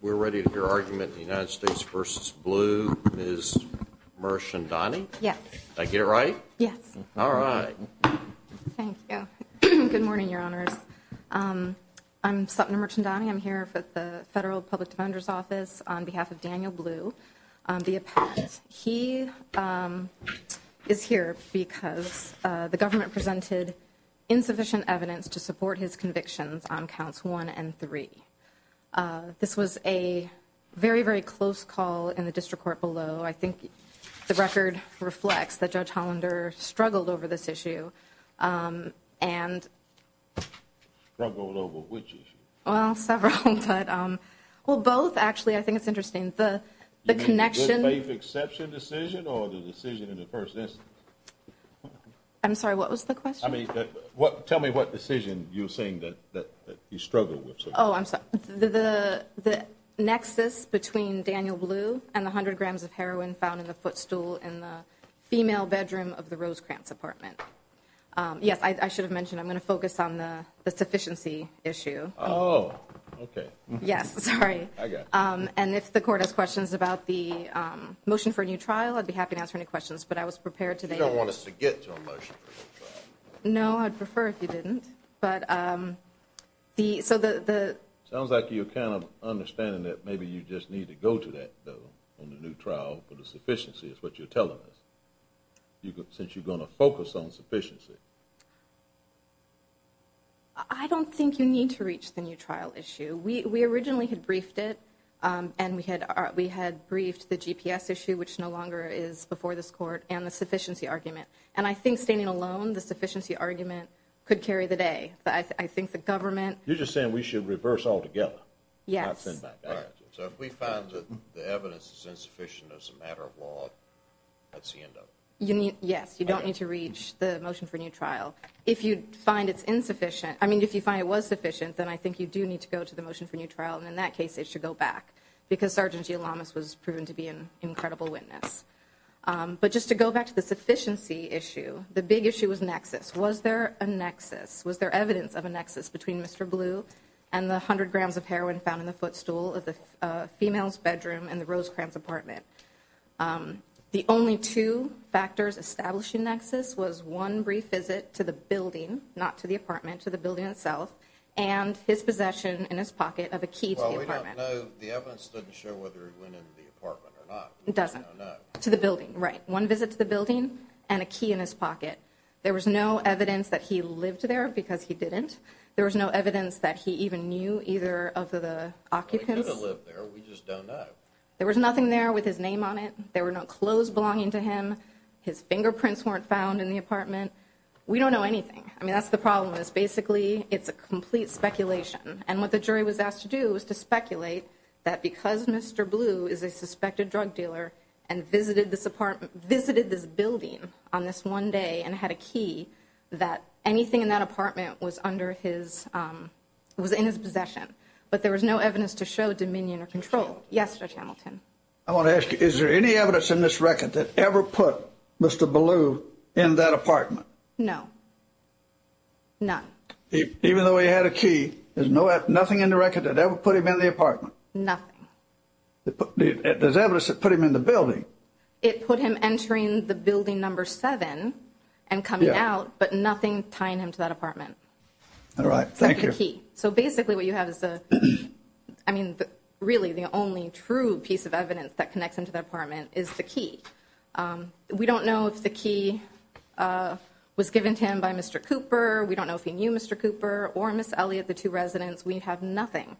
We're ready to hear argument in the United States v. Blue. Ms. Merchandani? Yes. Did I get it right? Yes. All right. Thank you. Good morning, Your Honors. I'm Sutton Merchandani. I'm here for the Federal Public Defender's Office on behalf of Daniel Blue, the appellant. He is here because the government presented insufficient evidence to support his convictions on counsel's behalf. This was a very, very close call in the district court below. I think the record reflects that Judge Hollander struggled over this issue and... Struggled over which issue? Well, several. Well, both actually. I think it's interesting. The connection... Good faith exception decision or the decision in the first instance? I'm sorry, what was the question? I mean, tell me what decision you're saying that he struggled with. Oh, I'm sorry. The nexus between Daniel Blue and the 100 grams of heroin found in the footstool in the female bedroom of the Rosecrantz apartment. Yes, I should have mentioned, I'm going to focus on the sufficiency issue. Oh, okay. Yes, sorry. I got you. And if the court has questions about the motion for a new trial, I'd be happy to answer any questions, but I was prepared to... Do you want us to get to a motion for a new trial? No, I'd prefer if you didn't. But the... So the... Sounds like you're kind of understanding that maybe you just need to go to that, though, on the new trial for the sufficiency, is what you're telling us. Since you're going to focus on sufficiency. I don't think you need to reach the new trial issue. We originally had briefed it, and we had briefed the GPS issue, which no longer is before this court, and the sufficiency argument. And I think standing alone, the sufficiency argument could carry the day. But I think the government... You're just saying we should reverse altogether? Yes. So if we found that the evidence is insufficient as a matter of law, that's the end of it? You need... Yes, you don't need to reach the motion for a new trial. If you find it's insufficient... I mean, if you find it was sufficient, then I think you do need to go to the motion for a new trial, and in that case, they should go back, because Sgt. G. Lamas was proven to be an incredible witness. But just to go back to the sufficiency issue, the big issue was nexus. Was there a nexus? Was there evidence of a nexus between Mr. Blue and the 100 grams of heroin found in the footstool of the female's bedroom in the Rosecrans apartment? The only two factors establishing nexus was one brief visit to the building, not to the apartment, to the building itself, and his possession in his pocket of a key to the apartment. Well, we don't know. The evidence doesn't show whether he went into the apartment or not. We just don't know. It doesn't. To the building, right. One visit to the building and a key in his pocket. There was no evidence that he lived there, because he didn't. There was no evidence that he even knew either of the occupants. Well, he could have lived there. We just don't know. There was nothing there with his name on it. There were no clothes belonging to him. His fingerprints weren't found in the apartment. We don't know anything. I mean, that's the problem is basically it's a complete speculation. And what the jury was asked to do was to speculate that because Mr. Blue is a suspected drug dealer and visited this apartment, visited this building on this one day and had a key, that anything in that apartment was under his, was in his possession. But there was no evidence to show dominion or control. Yes, Judge Hamilton. I want to ask you, is there any evidence in this record that ever put Mr. Blue in that apartment? No. None. Even though he had a key, there's nothing in the record that ever put him in the apartment? Nothing. There's evidence that put him in the building. It put him entering the building number seven and coming out, but nothing tying him to that apartment. All right. Thank you. So basically what you have is, I mean, really the only true piece of evidence that connects into the apartment is the key. We don't know if the key was given to him by Mr. Cooper. We don't know if he knew Mr. Cooper or Miss Elliot, the two residents. We have nothing.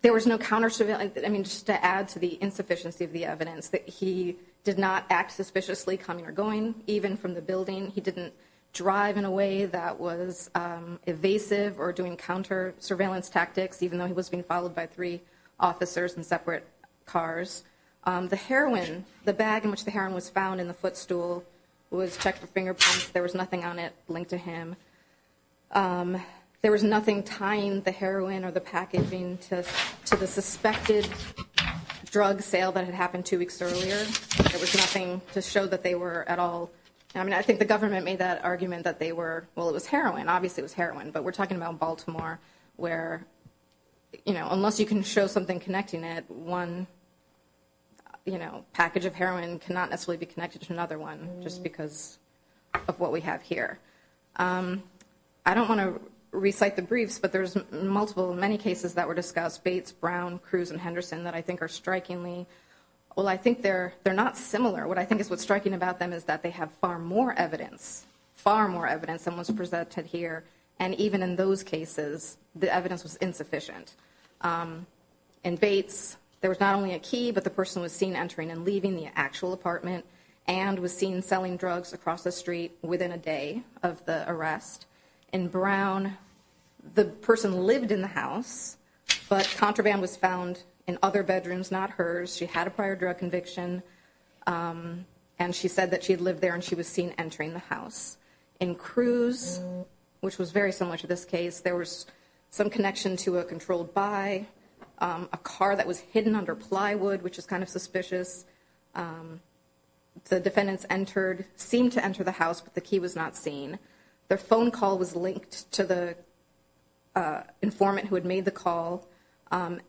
There was no counter surveillance. I mean, just to add to the insufficiency of the evidence that he did not act suspiciously, coming or going, even from the building. He didn't drive in a way that was evasive or doing counter surveillance tactics, even though he was being followed by three officers in separate cars. The heroin, the bag in which the heroin was found in the footstool was checked for fingerprints. There was nothing on it linked to him. There was nothing tying the heroin or the packaging to the suspected drug sale that had happened two weeks earlier. There was nothing to show that they were at all. I mean, I think the government made that argument that they were, well, it was heroin. Obviously it was heroin, but we're talking about Baltimore where, you know, unless you can show something connecting it, one, you know, package of heroin cannot necessarily be connected to another one just because of what we have here. I don't want to recite the briefs, but there's multiple, many cases that were discussed, Bates, Brown, Cruz, and Henderson that I think are strikingly, well, I think they're not similar. What I think is what's striking about them is that they have far more evidence, far more evidence than was presented here. And even in those cases, the evidence was insufficient. In Bates, there was not only a key, but the person was seen entering and leaving the actual apartment and was seen selling drugs across the street within a day of the arrest. In Brown, the person lived in the house, but contraband was found in other bedrooms, not hers. She had a prior drug conviction and she said that she had lived there and she was seen entering the house. In Cruz, which was very similar to this case, there was some connection to a controlled buy, a car that was hidden under plywood, which is kind of suspicious. The defendants entered, seemed to enter the house, but the key was not seen. Their phone call was linked to the informant who had made the call, and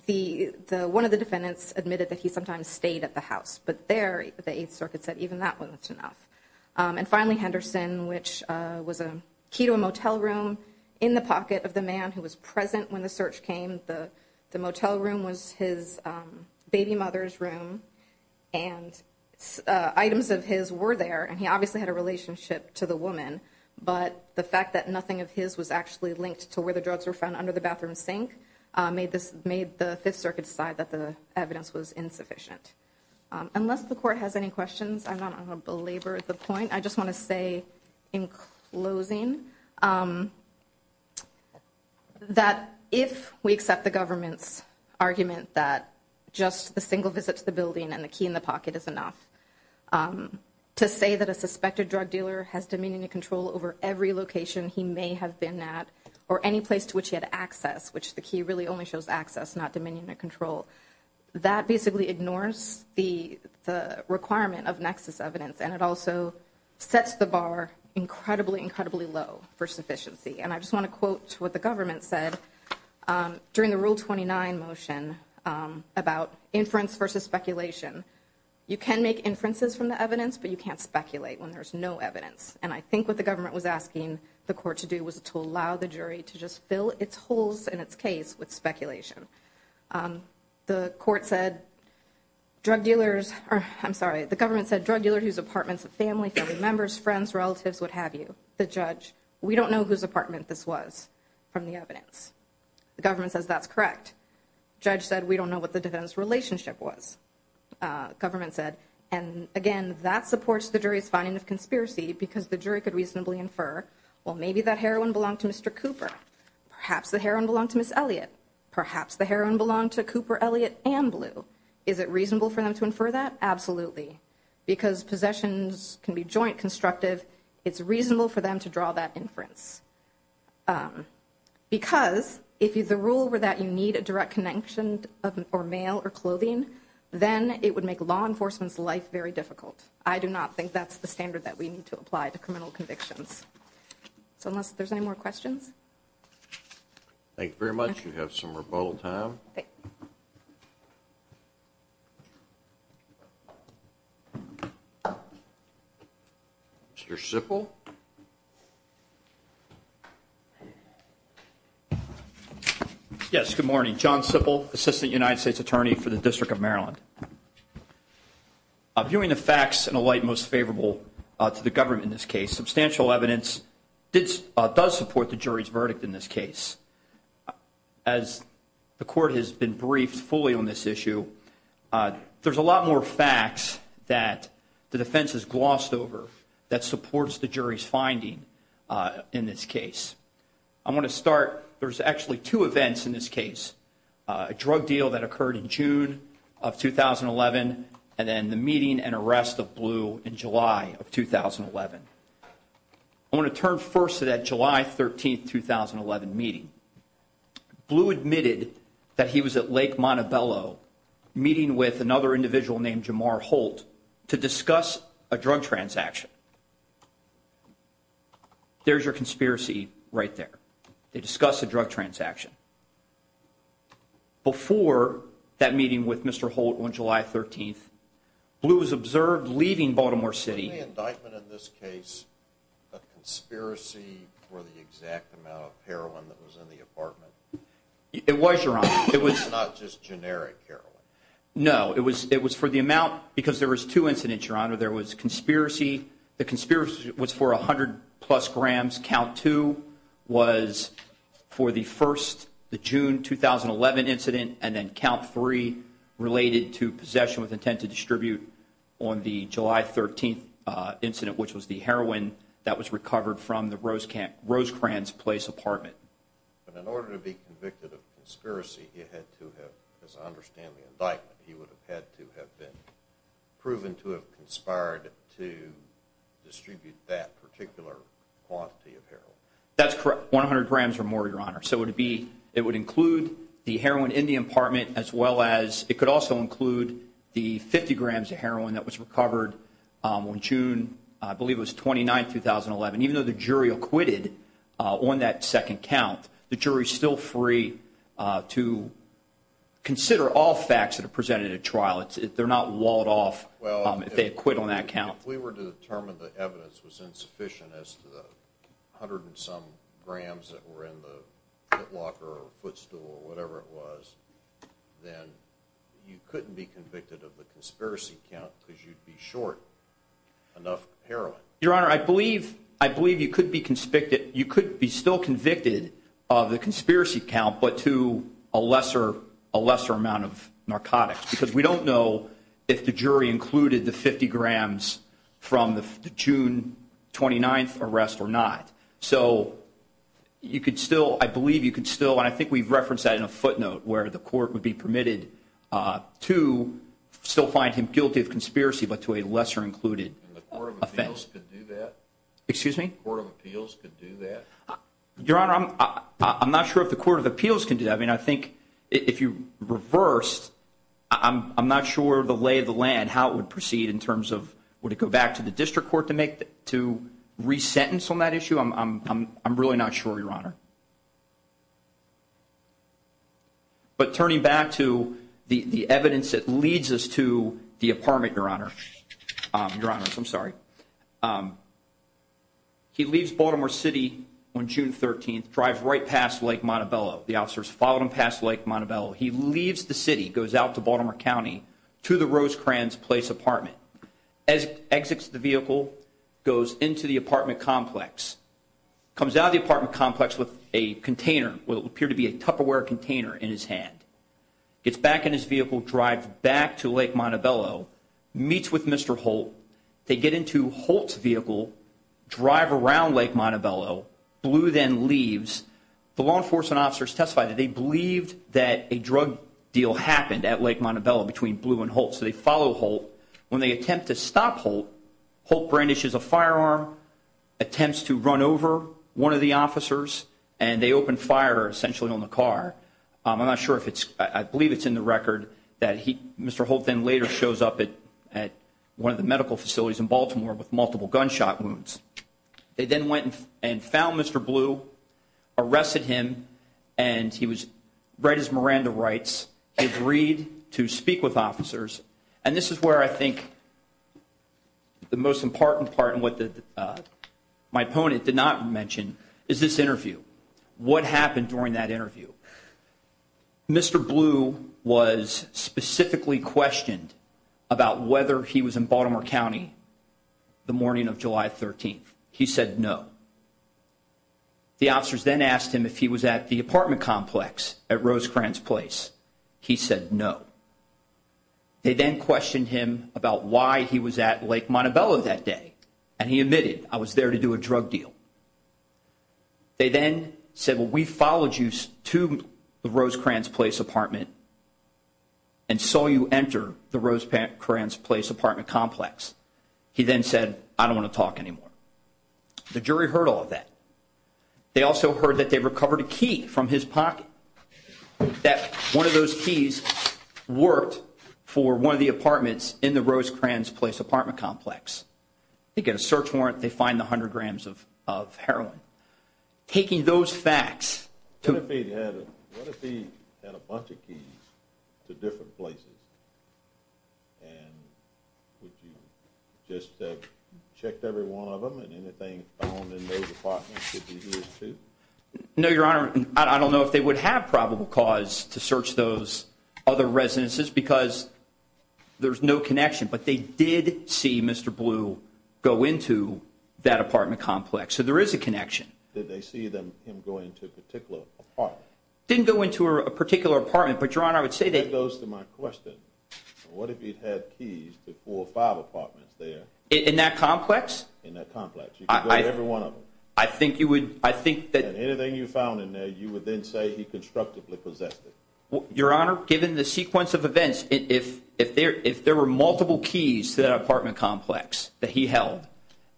one of the defendants admitted that he sometimes stayed at the house. But there, the Eighth Circuit said even that wasn't enough. And finally, Henderson, which was a key to a motel room in the pocket of the man who was present when the search came. The motel room was his baby mother's room, and items of his were there, and he obviously had a relationship to the woman. But the fact that nothing of his was actually linked to where the drugs were found under the bathroom sink made the Fifth Circuit decide that the evidence was insufficient. Unless the court has any questions, I'm not going to belabor the point. I just want to say in closing that if we accept the government's argument that just a single visit to the building and the key in the pocket is enough, to say that a suspected drug dealer has dominion and control over every location he may have been at or any place to which he had access, which the key really only shows access, not dominion and control, that basically ignores the requirement of nexus evidence. And it also sets the bar incredibly, incredibly low for sufficiency. And I just want to quote what the government said during the Rule 29 motion about inference versus speculation. You can make inferences from the evidence, but you can't speculate when there's no evidence. And I think what the government was asking the court to do was to allow the jury to just fill its holes in its case with speculation. The court said drug dealers, I'm sorry, the government said drug dealer whose apartments of family, family members, friends, relatives, what have you. The judge, we don't know whose apartment this was from the evidence. The government says that's correct. Judge said we don't know what the defendant's relationship was. Government said, and again, that supports the jury's finding of conspiracy because the jury could reasonably infer, well, maybe that heroin belonged to Mr. Cooper. Perhaps the heroin belonged to Ms. Elliot. Perhaps the heroin belonged to Cooper, Elliot, and Blue. Is it reasonable for them to infer that? Absolutely. Because possessions can be joint constructive. It's reasonable for them to draw that inference. Because if the rule were that you need a direct connection or mail or clothing, then it would make law enforcement's life very difficult. I do not think that's the standard that we need to apply to criminal convictions. So unless there's any more questions. Thank you very much. You have some rebuttal time. Mr. Sipple. Yes, good morning. John Sipple, Assistant United States Attorney for the District of Maryland. Viewing the facts in a light most favorable to the government in this case, substantial evidence does support the jury's verdict in this case. As the court has been briefed fully on this issue, there's a lot more facts that the defense has glossed over that supports the jury's finding in this case. I want to start, there's actually two events in this case. A drug deal that occurred in June of 2011, and then the meeting and arrest of Blue in July of 2011. I want to turn first to that July 13, 2011 meeting. Blue admitted that he was at Lake Montebello meeting with another individual named Jamar Holt to discuss a drug transaction. There's your conspiracy right there. They discuss a drug transaction. Before that meeting with Mr. Holt on July 13th, Blue was observed leaving Baltimore City. Was the indictment in this case a conspiracy for the exact amount of heroin that was in the apartment? It was, Your Honor. It was not just generic heroin? No, it was for the amount, because there was two incidents, Your Honor. There was conspiracy. The conspiracy was for 100 plus grams. Count two was for the first, the June 2011 incident, and then count three related to possession with intent to distribute on the July 13th incident, which was the heroin that was recovered from the Rosecrans Place apartment. But in order to be convicted of conspiracy, he had to have, as I understand the indictment, he would have had to have been proven to have conspired to distribute that particular quantity of heroin. That's correct. 100 grams or more, Your Honor. So it would include the heroin in the apartment as well as, it could also include the 50 grams of heroin that was recovered on June, I believe it was 29th, 2011. Even though the jury acquitted on that second count, the jury's still free to consider all facts that are presented at trial. They're not walled off if they acquit on that count. If we were to determine the evidence was insufficient as to the 100 and some grams that were in the pit locker or footstool or whatever it was, then you couldn't be convicted of the conspiracy count because you'd be short enough heroin. Your Honor, I believe you could be convicted of the conspiracy count but to a lesser amount of narcotics because we don't know if the jury included the 50 grams from the June 29th arrest or not. So you could still, I believe you could still, and I think we've referenced that in a footnote where the court would be permitted to still find him guilty of conspiracy but to a lesser included offense. And the Court of Appeals could do that? Excuse me? The Court of Appeals could do that? Your Honor, I'm not sure if the Court of Appeals can do that. I mean, I think if you reversed, I'm not sure the lay of the land, how it would proceed in terms of would it go back to the district court to re-sentence on that issue? I'm really not sure, Your Honor. But turning back to the evidence that leads us to the apartment, Your Honor, Your Honors, I'm sorry. He leaves Baltimore City on June 13th, drives right past Lake Montebello. The officers follow him past Lake Montebello. He leaves the city, goes out to Baltimore County to the Rosecrans Place apartment. As he exits the vehicle, goes into the apartment complex, comes out of the apartment complex with a container, what would appear to be a Tupperware container in his hand. Gets back in his vehicle, drives back to Lake Montebello, meets with Mr. Holt. They get into Holt's vehicle, drive around Lake Montebello. Blue then leaves. The law enforcement officers testify that they believed that a drug deal happened at Lake Montebello between Blue and Holt, so they follow Holt. When they attempt to stop Holt, Holt brandishes a firearm, attempts to run over one of the officers, and they open fire, essentially, on the car. I'm not sure if it's, I believe it's in the record that he, Mr. Holt then later shows up at one of the medical facilities in Baltimore with multiple gunshot wounds. They then went and found Mr. Blue, arrested him, and he was, right as Miranda writes, he agreed to speak with officers. And this is where I think the most important part and what my opponent did not mention is this interview. What happened during that interview? Mr. Blue was specifically questioned about whether he was in Baltimore County the morning of July 13th. He said no. The officers then asked him if he was at the apartment complex at Rosecrans Place. He said no. They then questioned him about why he was at Lake Montebello that day, and he admitted, I was there to do a drug deal. They then said, well, we followed you to the Rosecrans Place apartment and saw you enter the Rosecrans Place apartment complex. He then said, I don't want to talk anymore. The jury heard all of that. They also heard that they recovered a key from his pocket, that one of those keys worked for one of the apartments in the Rosecrans Place apartment complex. They get a search warrant. They find the 100 grams of heroin. Taking those facts to— What if he had a bunch of keys to different places? And would you just have checked every one of them, and anything found in those apartments would be his, too? No, Your Honor. I don't know if they would have probable cause to search those other residences because there's no connection. But they did see Mr. Blue go into that apartment complex, so there is a connection. Did they see him going to a particular apartment? Didn't go into a particular apartment, but, Your Honor, I would say that— That goes to my question. What if he had keys to four or five apartments there? In that complex? In that complex. You could go to every one of them. I think you would— And anything you found in there, you would then say he constructively possessed it. Your Honor, given the sequence of events, if there were multiple keys to that apartment complex that he held,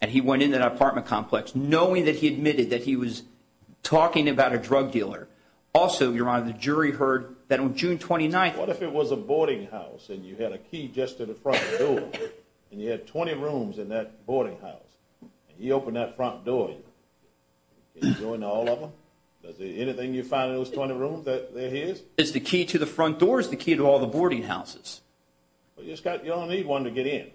and he went into that apartment complex knowing that he admitted that he was talking about a drug dealer, also, Your Honor, the jury heard that on June 29th— What if it was a boarding house and you had a key just to the front door? And you had 20 rooms in that boarding house. He opened that front door. Can you join all of them? Anything you find in those 20 rooms that he has? Is the key to the front door or is the key to all the boarding houses? You only need one to get in.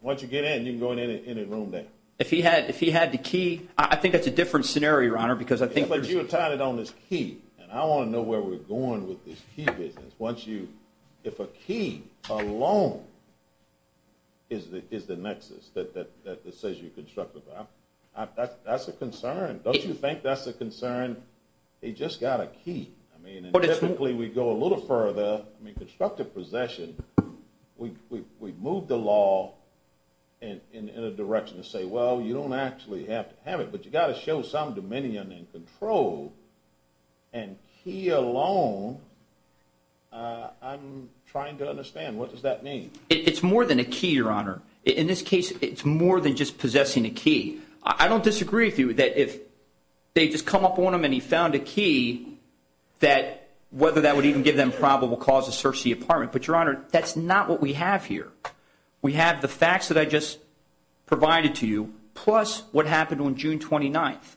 Once you get in, you can go into any room there. If he had the key—I think that's a different scenario, Your Honor, because I think there's— But you were touted on this key, and I want to know where we're going with this key business. If a key alone is the nexus that says you constructively—that's a concern. Don't you think that's a concern? He just got a key. I mean typically we go a little further. I mean constructive possession, we move the law in a direction to say, well, you don't actually have to have it, but you've got to show some dominion and control, and key alone, I'm trying to understand, what does that mean? It's more than a key, Your Honor. I don't disagree with you that if they just come up on him and he found a key, that whether that would even give them probable cause to search the apartment. But, Your Honor, that's not what we have here. We have the facts that I just provided to you plus what happened on June 29th.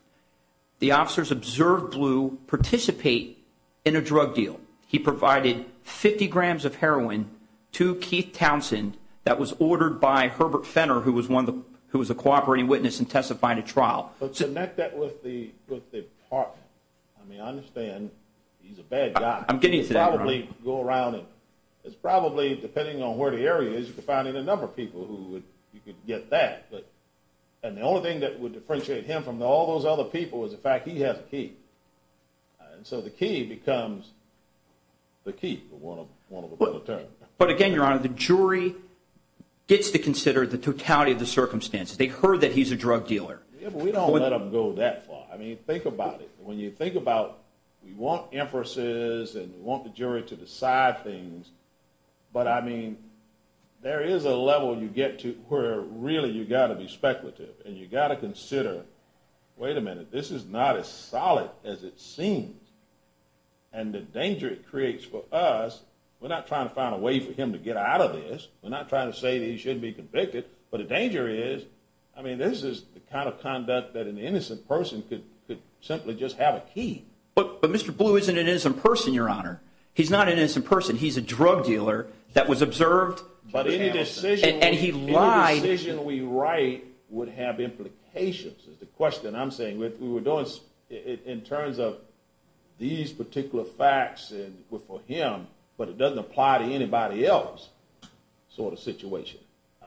The officers observed Blue participate in a drug deal. He provided 50 grams of heroin to Keith Townsend that was ordered by Herbert Fenner, who was a cooperating witness and testified at trial. But connect that with the apartment. I mean I understand he's a bad guy. I'm getting to that, Your Honor. You could probably go around and it's probably, depending on where the area is, you could find a number of people who you could get that. And the only thing that would differentiate him from all those other people is the fact he has a key. And so the key becomes the key, one of a kind. But again, Your Honor, the jury gets to consider the totality of the circumstances. They heard that he's a drug dealer. We don't let them go that far. I mean think about it. When you think about we want emphases and we want the jury to decide things, but I mean there is a level you get to where really you've got to be speculative and you've got to consider, wait a minute, this is not as solid as it seems. And the danger it creates for us, we're not trying to find a way for him to get out of this. We're not trying to say that he shouldn't be convicted. But the danger is, I mean this is the kind of conduct that an innocent person could simply just have a key. But Mr. Blue isn't an innocent person, Your Honor. He's not an innocent person. He's a drug dealer that was observed. But any decision we write would have implications is the question I'm saying. In terms of these particular facts for him, but it doesn't apply to anybody else sort of situation.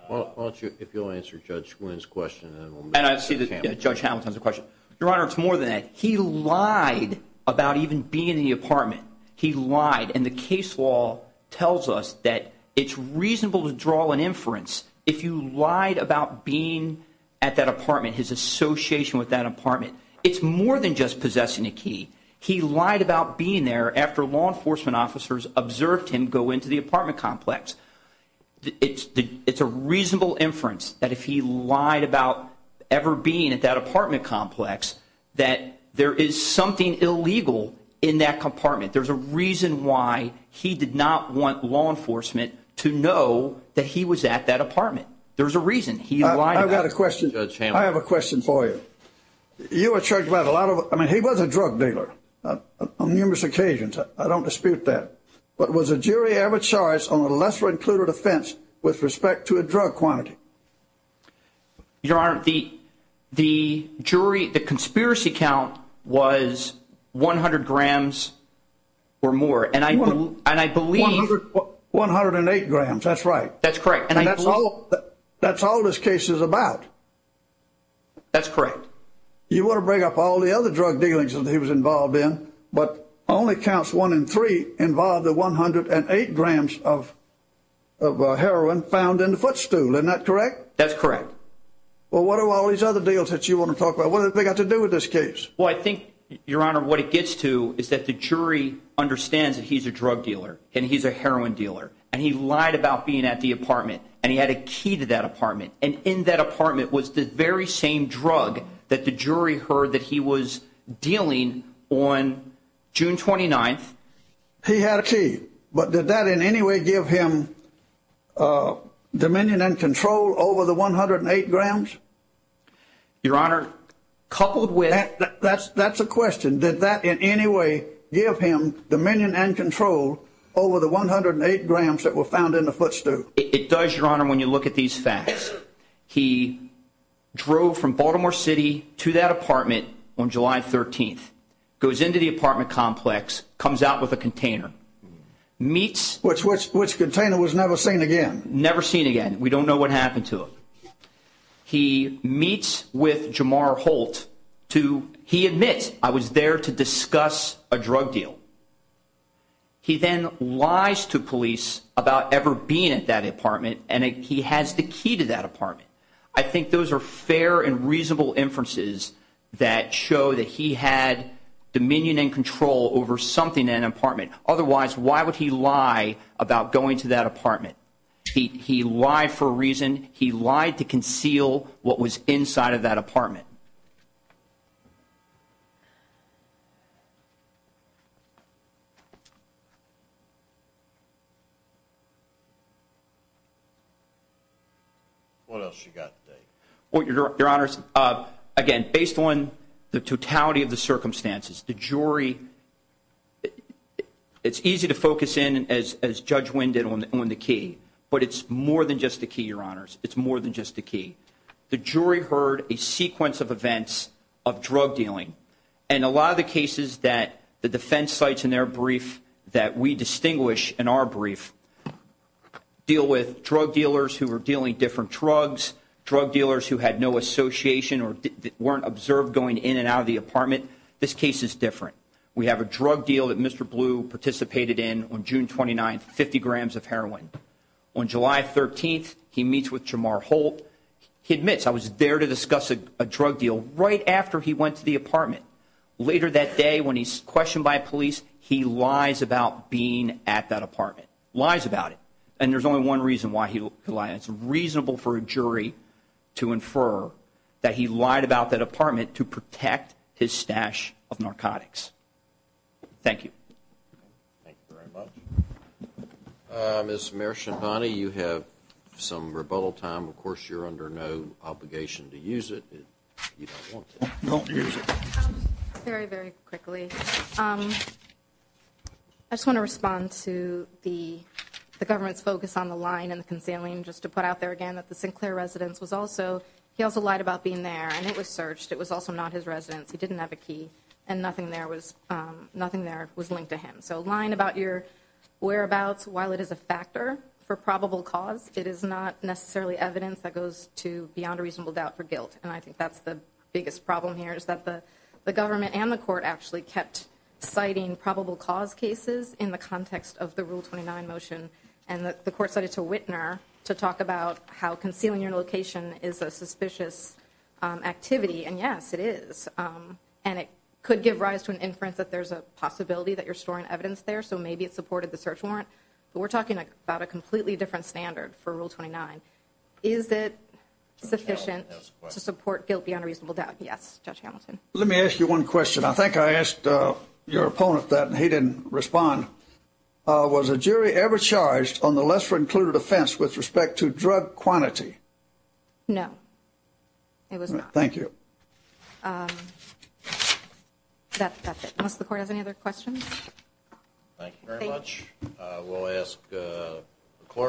Why don't you, if you'll answer Judge Wynn's question. And I see that Judge Hamilton has a question. Your Honor, it's more than that. He lied about even being in the apartment. He lied. And the case law tells us that it's reasonable to draw an inference if you lied about being at that apartment, his association with that apartment. It's more than just possessing a key. He lied about being there after law enforcement officers observed him go into the apartment complex. It's a reasonable inference that if he lied about ever being at that apartment complex that there is something illegal in that compartment. There's a reason why he did not want law enforcement to know that he was at that apartment. There's a reason he lied about it. I've got a question. I have a question for you. You were charged about a lot of, I mean, he was a drug dealer on numerous occasions. I don't dispute that. But was a jury ever charged on a lesser included offense with respect to a drug quantity? Your Honor, the jury, the conspiracy count was 100 grams or more. And I believe. One hundred and eight grams. That's right. That's correct. And that's all this case is about. That's correct. You want to bring up all the other drug dealings that he was involved in, but only counts one in three involved the 108 grams of heroin found in the footstool. Isn't that correct? That's correct. Well, what are all these other deals that you want to talk about? What have they got to do with this case? Well, I think, Your Honor, what it gets to is that the jury understands that he's a drug dealer and he's a heroin dealer. And he lied about being at the apartment. And he had a key to that apartment. And in that apartment was the very same drug that the jury heard that he was dealing on June 29th. He had a key. But did that in any way give him dominion and control over the 108 grams? Your Honor, coupled with. That's a question. Did that in any way give him dominion and control over the 108 grams that were found in the footstool? It does, Your Honor, when you look at these facts. He drove from Baltimore City to that apartment on July 13th, goes into the apartment complex, comes out with a container, meets. Which container was never seen again. Never seen again. We don't know what happened to it. He meets with Jamar Holt to. He admits, I was there to discuss a drug deal. He then lies to police about ever being at that apartment. And he has the key to that apartment. I think those are fair and reasonable inferences that show that he had dominion and control over something in an apartment. Otherwise, why would he lie about going to that apartment? He lied for a reason. He lied to conceal what was inside of that apartment. What else you got to say? Your Honors, again, based on the totality of the circumstances, the jury, it's easy to focus in as Judge Wynn did on the key. But it's more than just the key, Your Honors. It's more than just the key. The jury heard a sequence of events of drug dealing. And a lot of the cases that the defense cites in their brief that we distinguish in our brief deal with drug dealers who were dealing different drugs. Drug dealers who had no association or weren't observed going in and out of the apartment. This case is different. We have a drug deal that Mr. Blue participated in on June 29th, 50 grams of heroin. On July 13th, he meets with Jamar Holt. He admits, I was there to discuss a drug deal right after he went to the apartment. Later that day when he's questioned by police, he lies about being at that apartment. Lies about it. And there's only one reason why he lied. It's reasonable for a jury to infer that he lied about that apartment to protect his stash of narcotics. Thank you. Thank you very much. Ms. Marechandani, you have some rebuttal time. Of course, you're under no obligation to use it. You don't want to. Don't use it. Very, very quickly. I just want to respond to the government's focus on the lying and the concealing. Just to put out there again that the Sinclair residence was also, he also lied about being there. And it was searched. It was also not his residence. He didn't have a key. And nothing there was linked to him. So lying about your whereabouts, while it is a factor for probable cause, it is not necessarily evidence that goes to beyond a reasonable doubt for guilt. And I think that's the biggest problem here is that the government and the court actually kept citing probable cause cases in the context of the Rule 29 motion. And the court cited to Whitner to talk about how concealing your location is a suspicious activity. And, yes, it is. And it could give rise to an inference that there's a possibility that you're storing evidence there. So maybe it supported the search warrant. But we're talking about a completely different standard for Rule 29. Is it sufficient to support guilt beyond a reasonable doubt? Yes, Judge Hamilton. Let me ask you one question. I think I asked your opponent that, and he didn't respond. Was a jury ever charged on the lesser-included offense with respect to drug quantity? No, it was not. Thank you. That's it. Unless the court has any other questions. Thank you very much. We'll ask the clerk.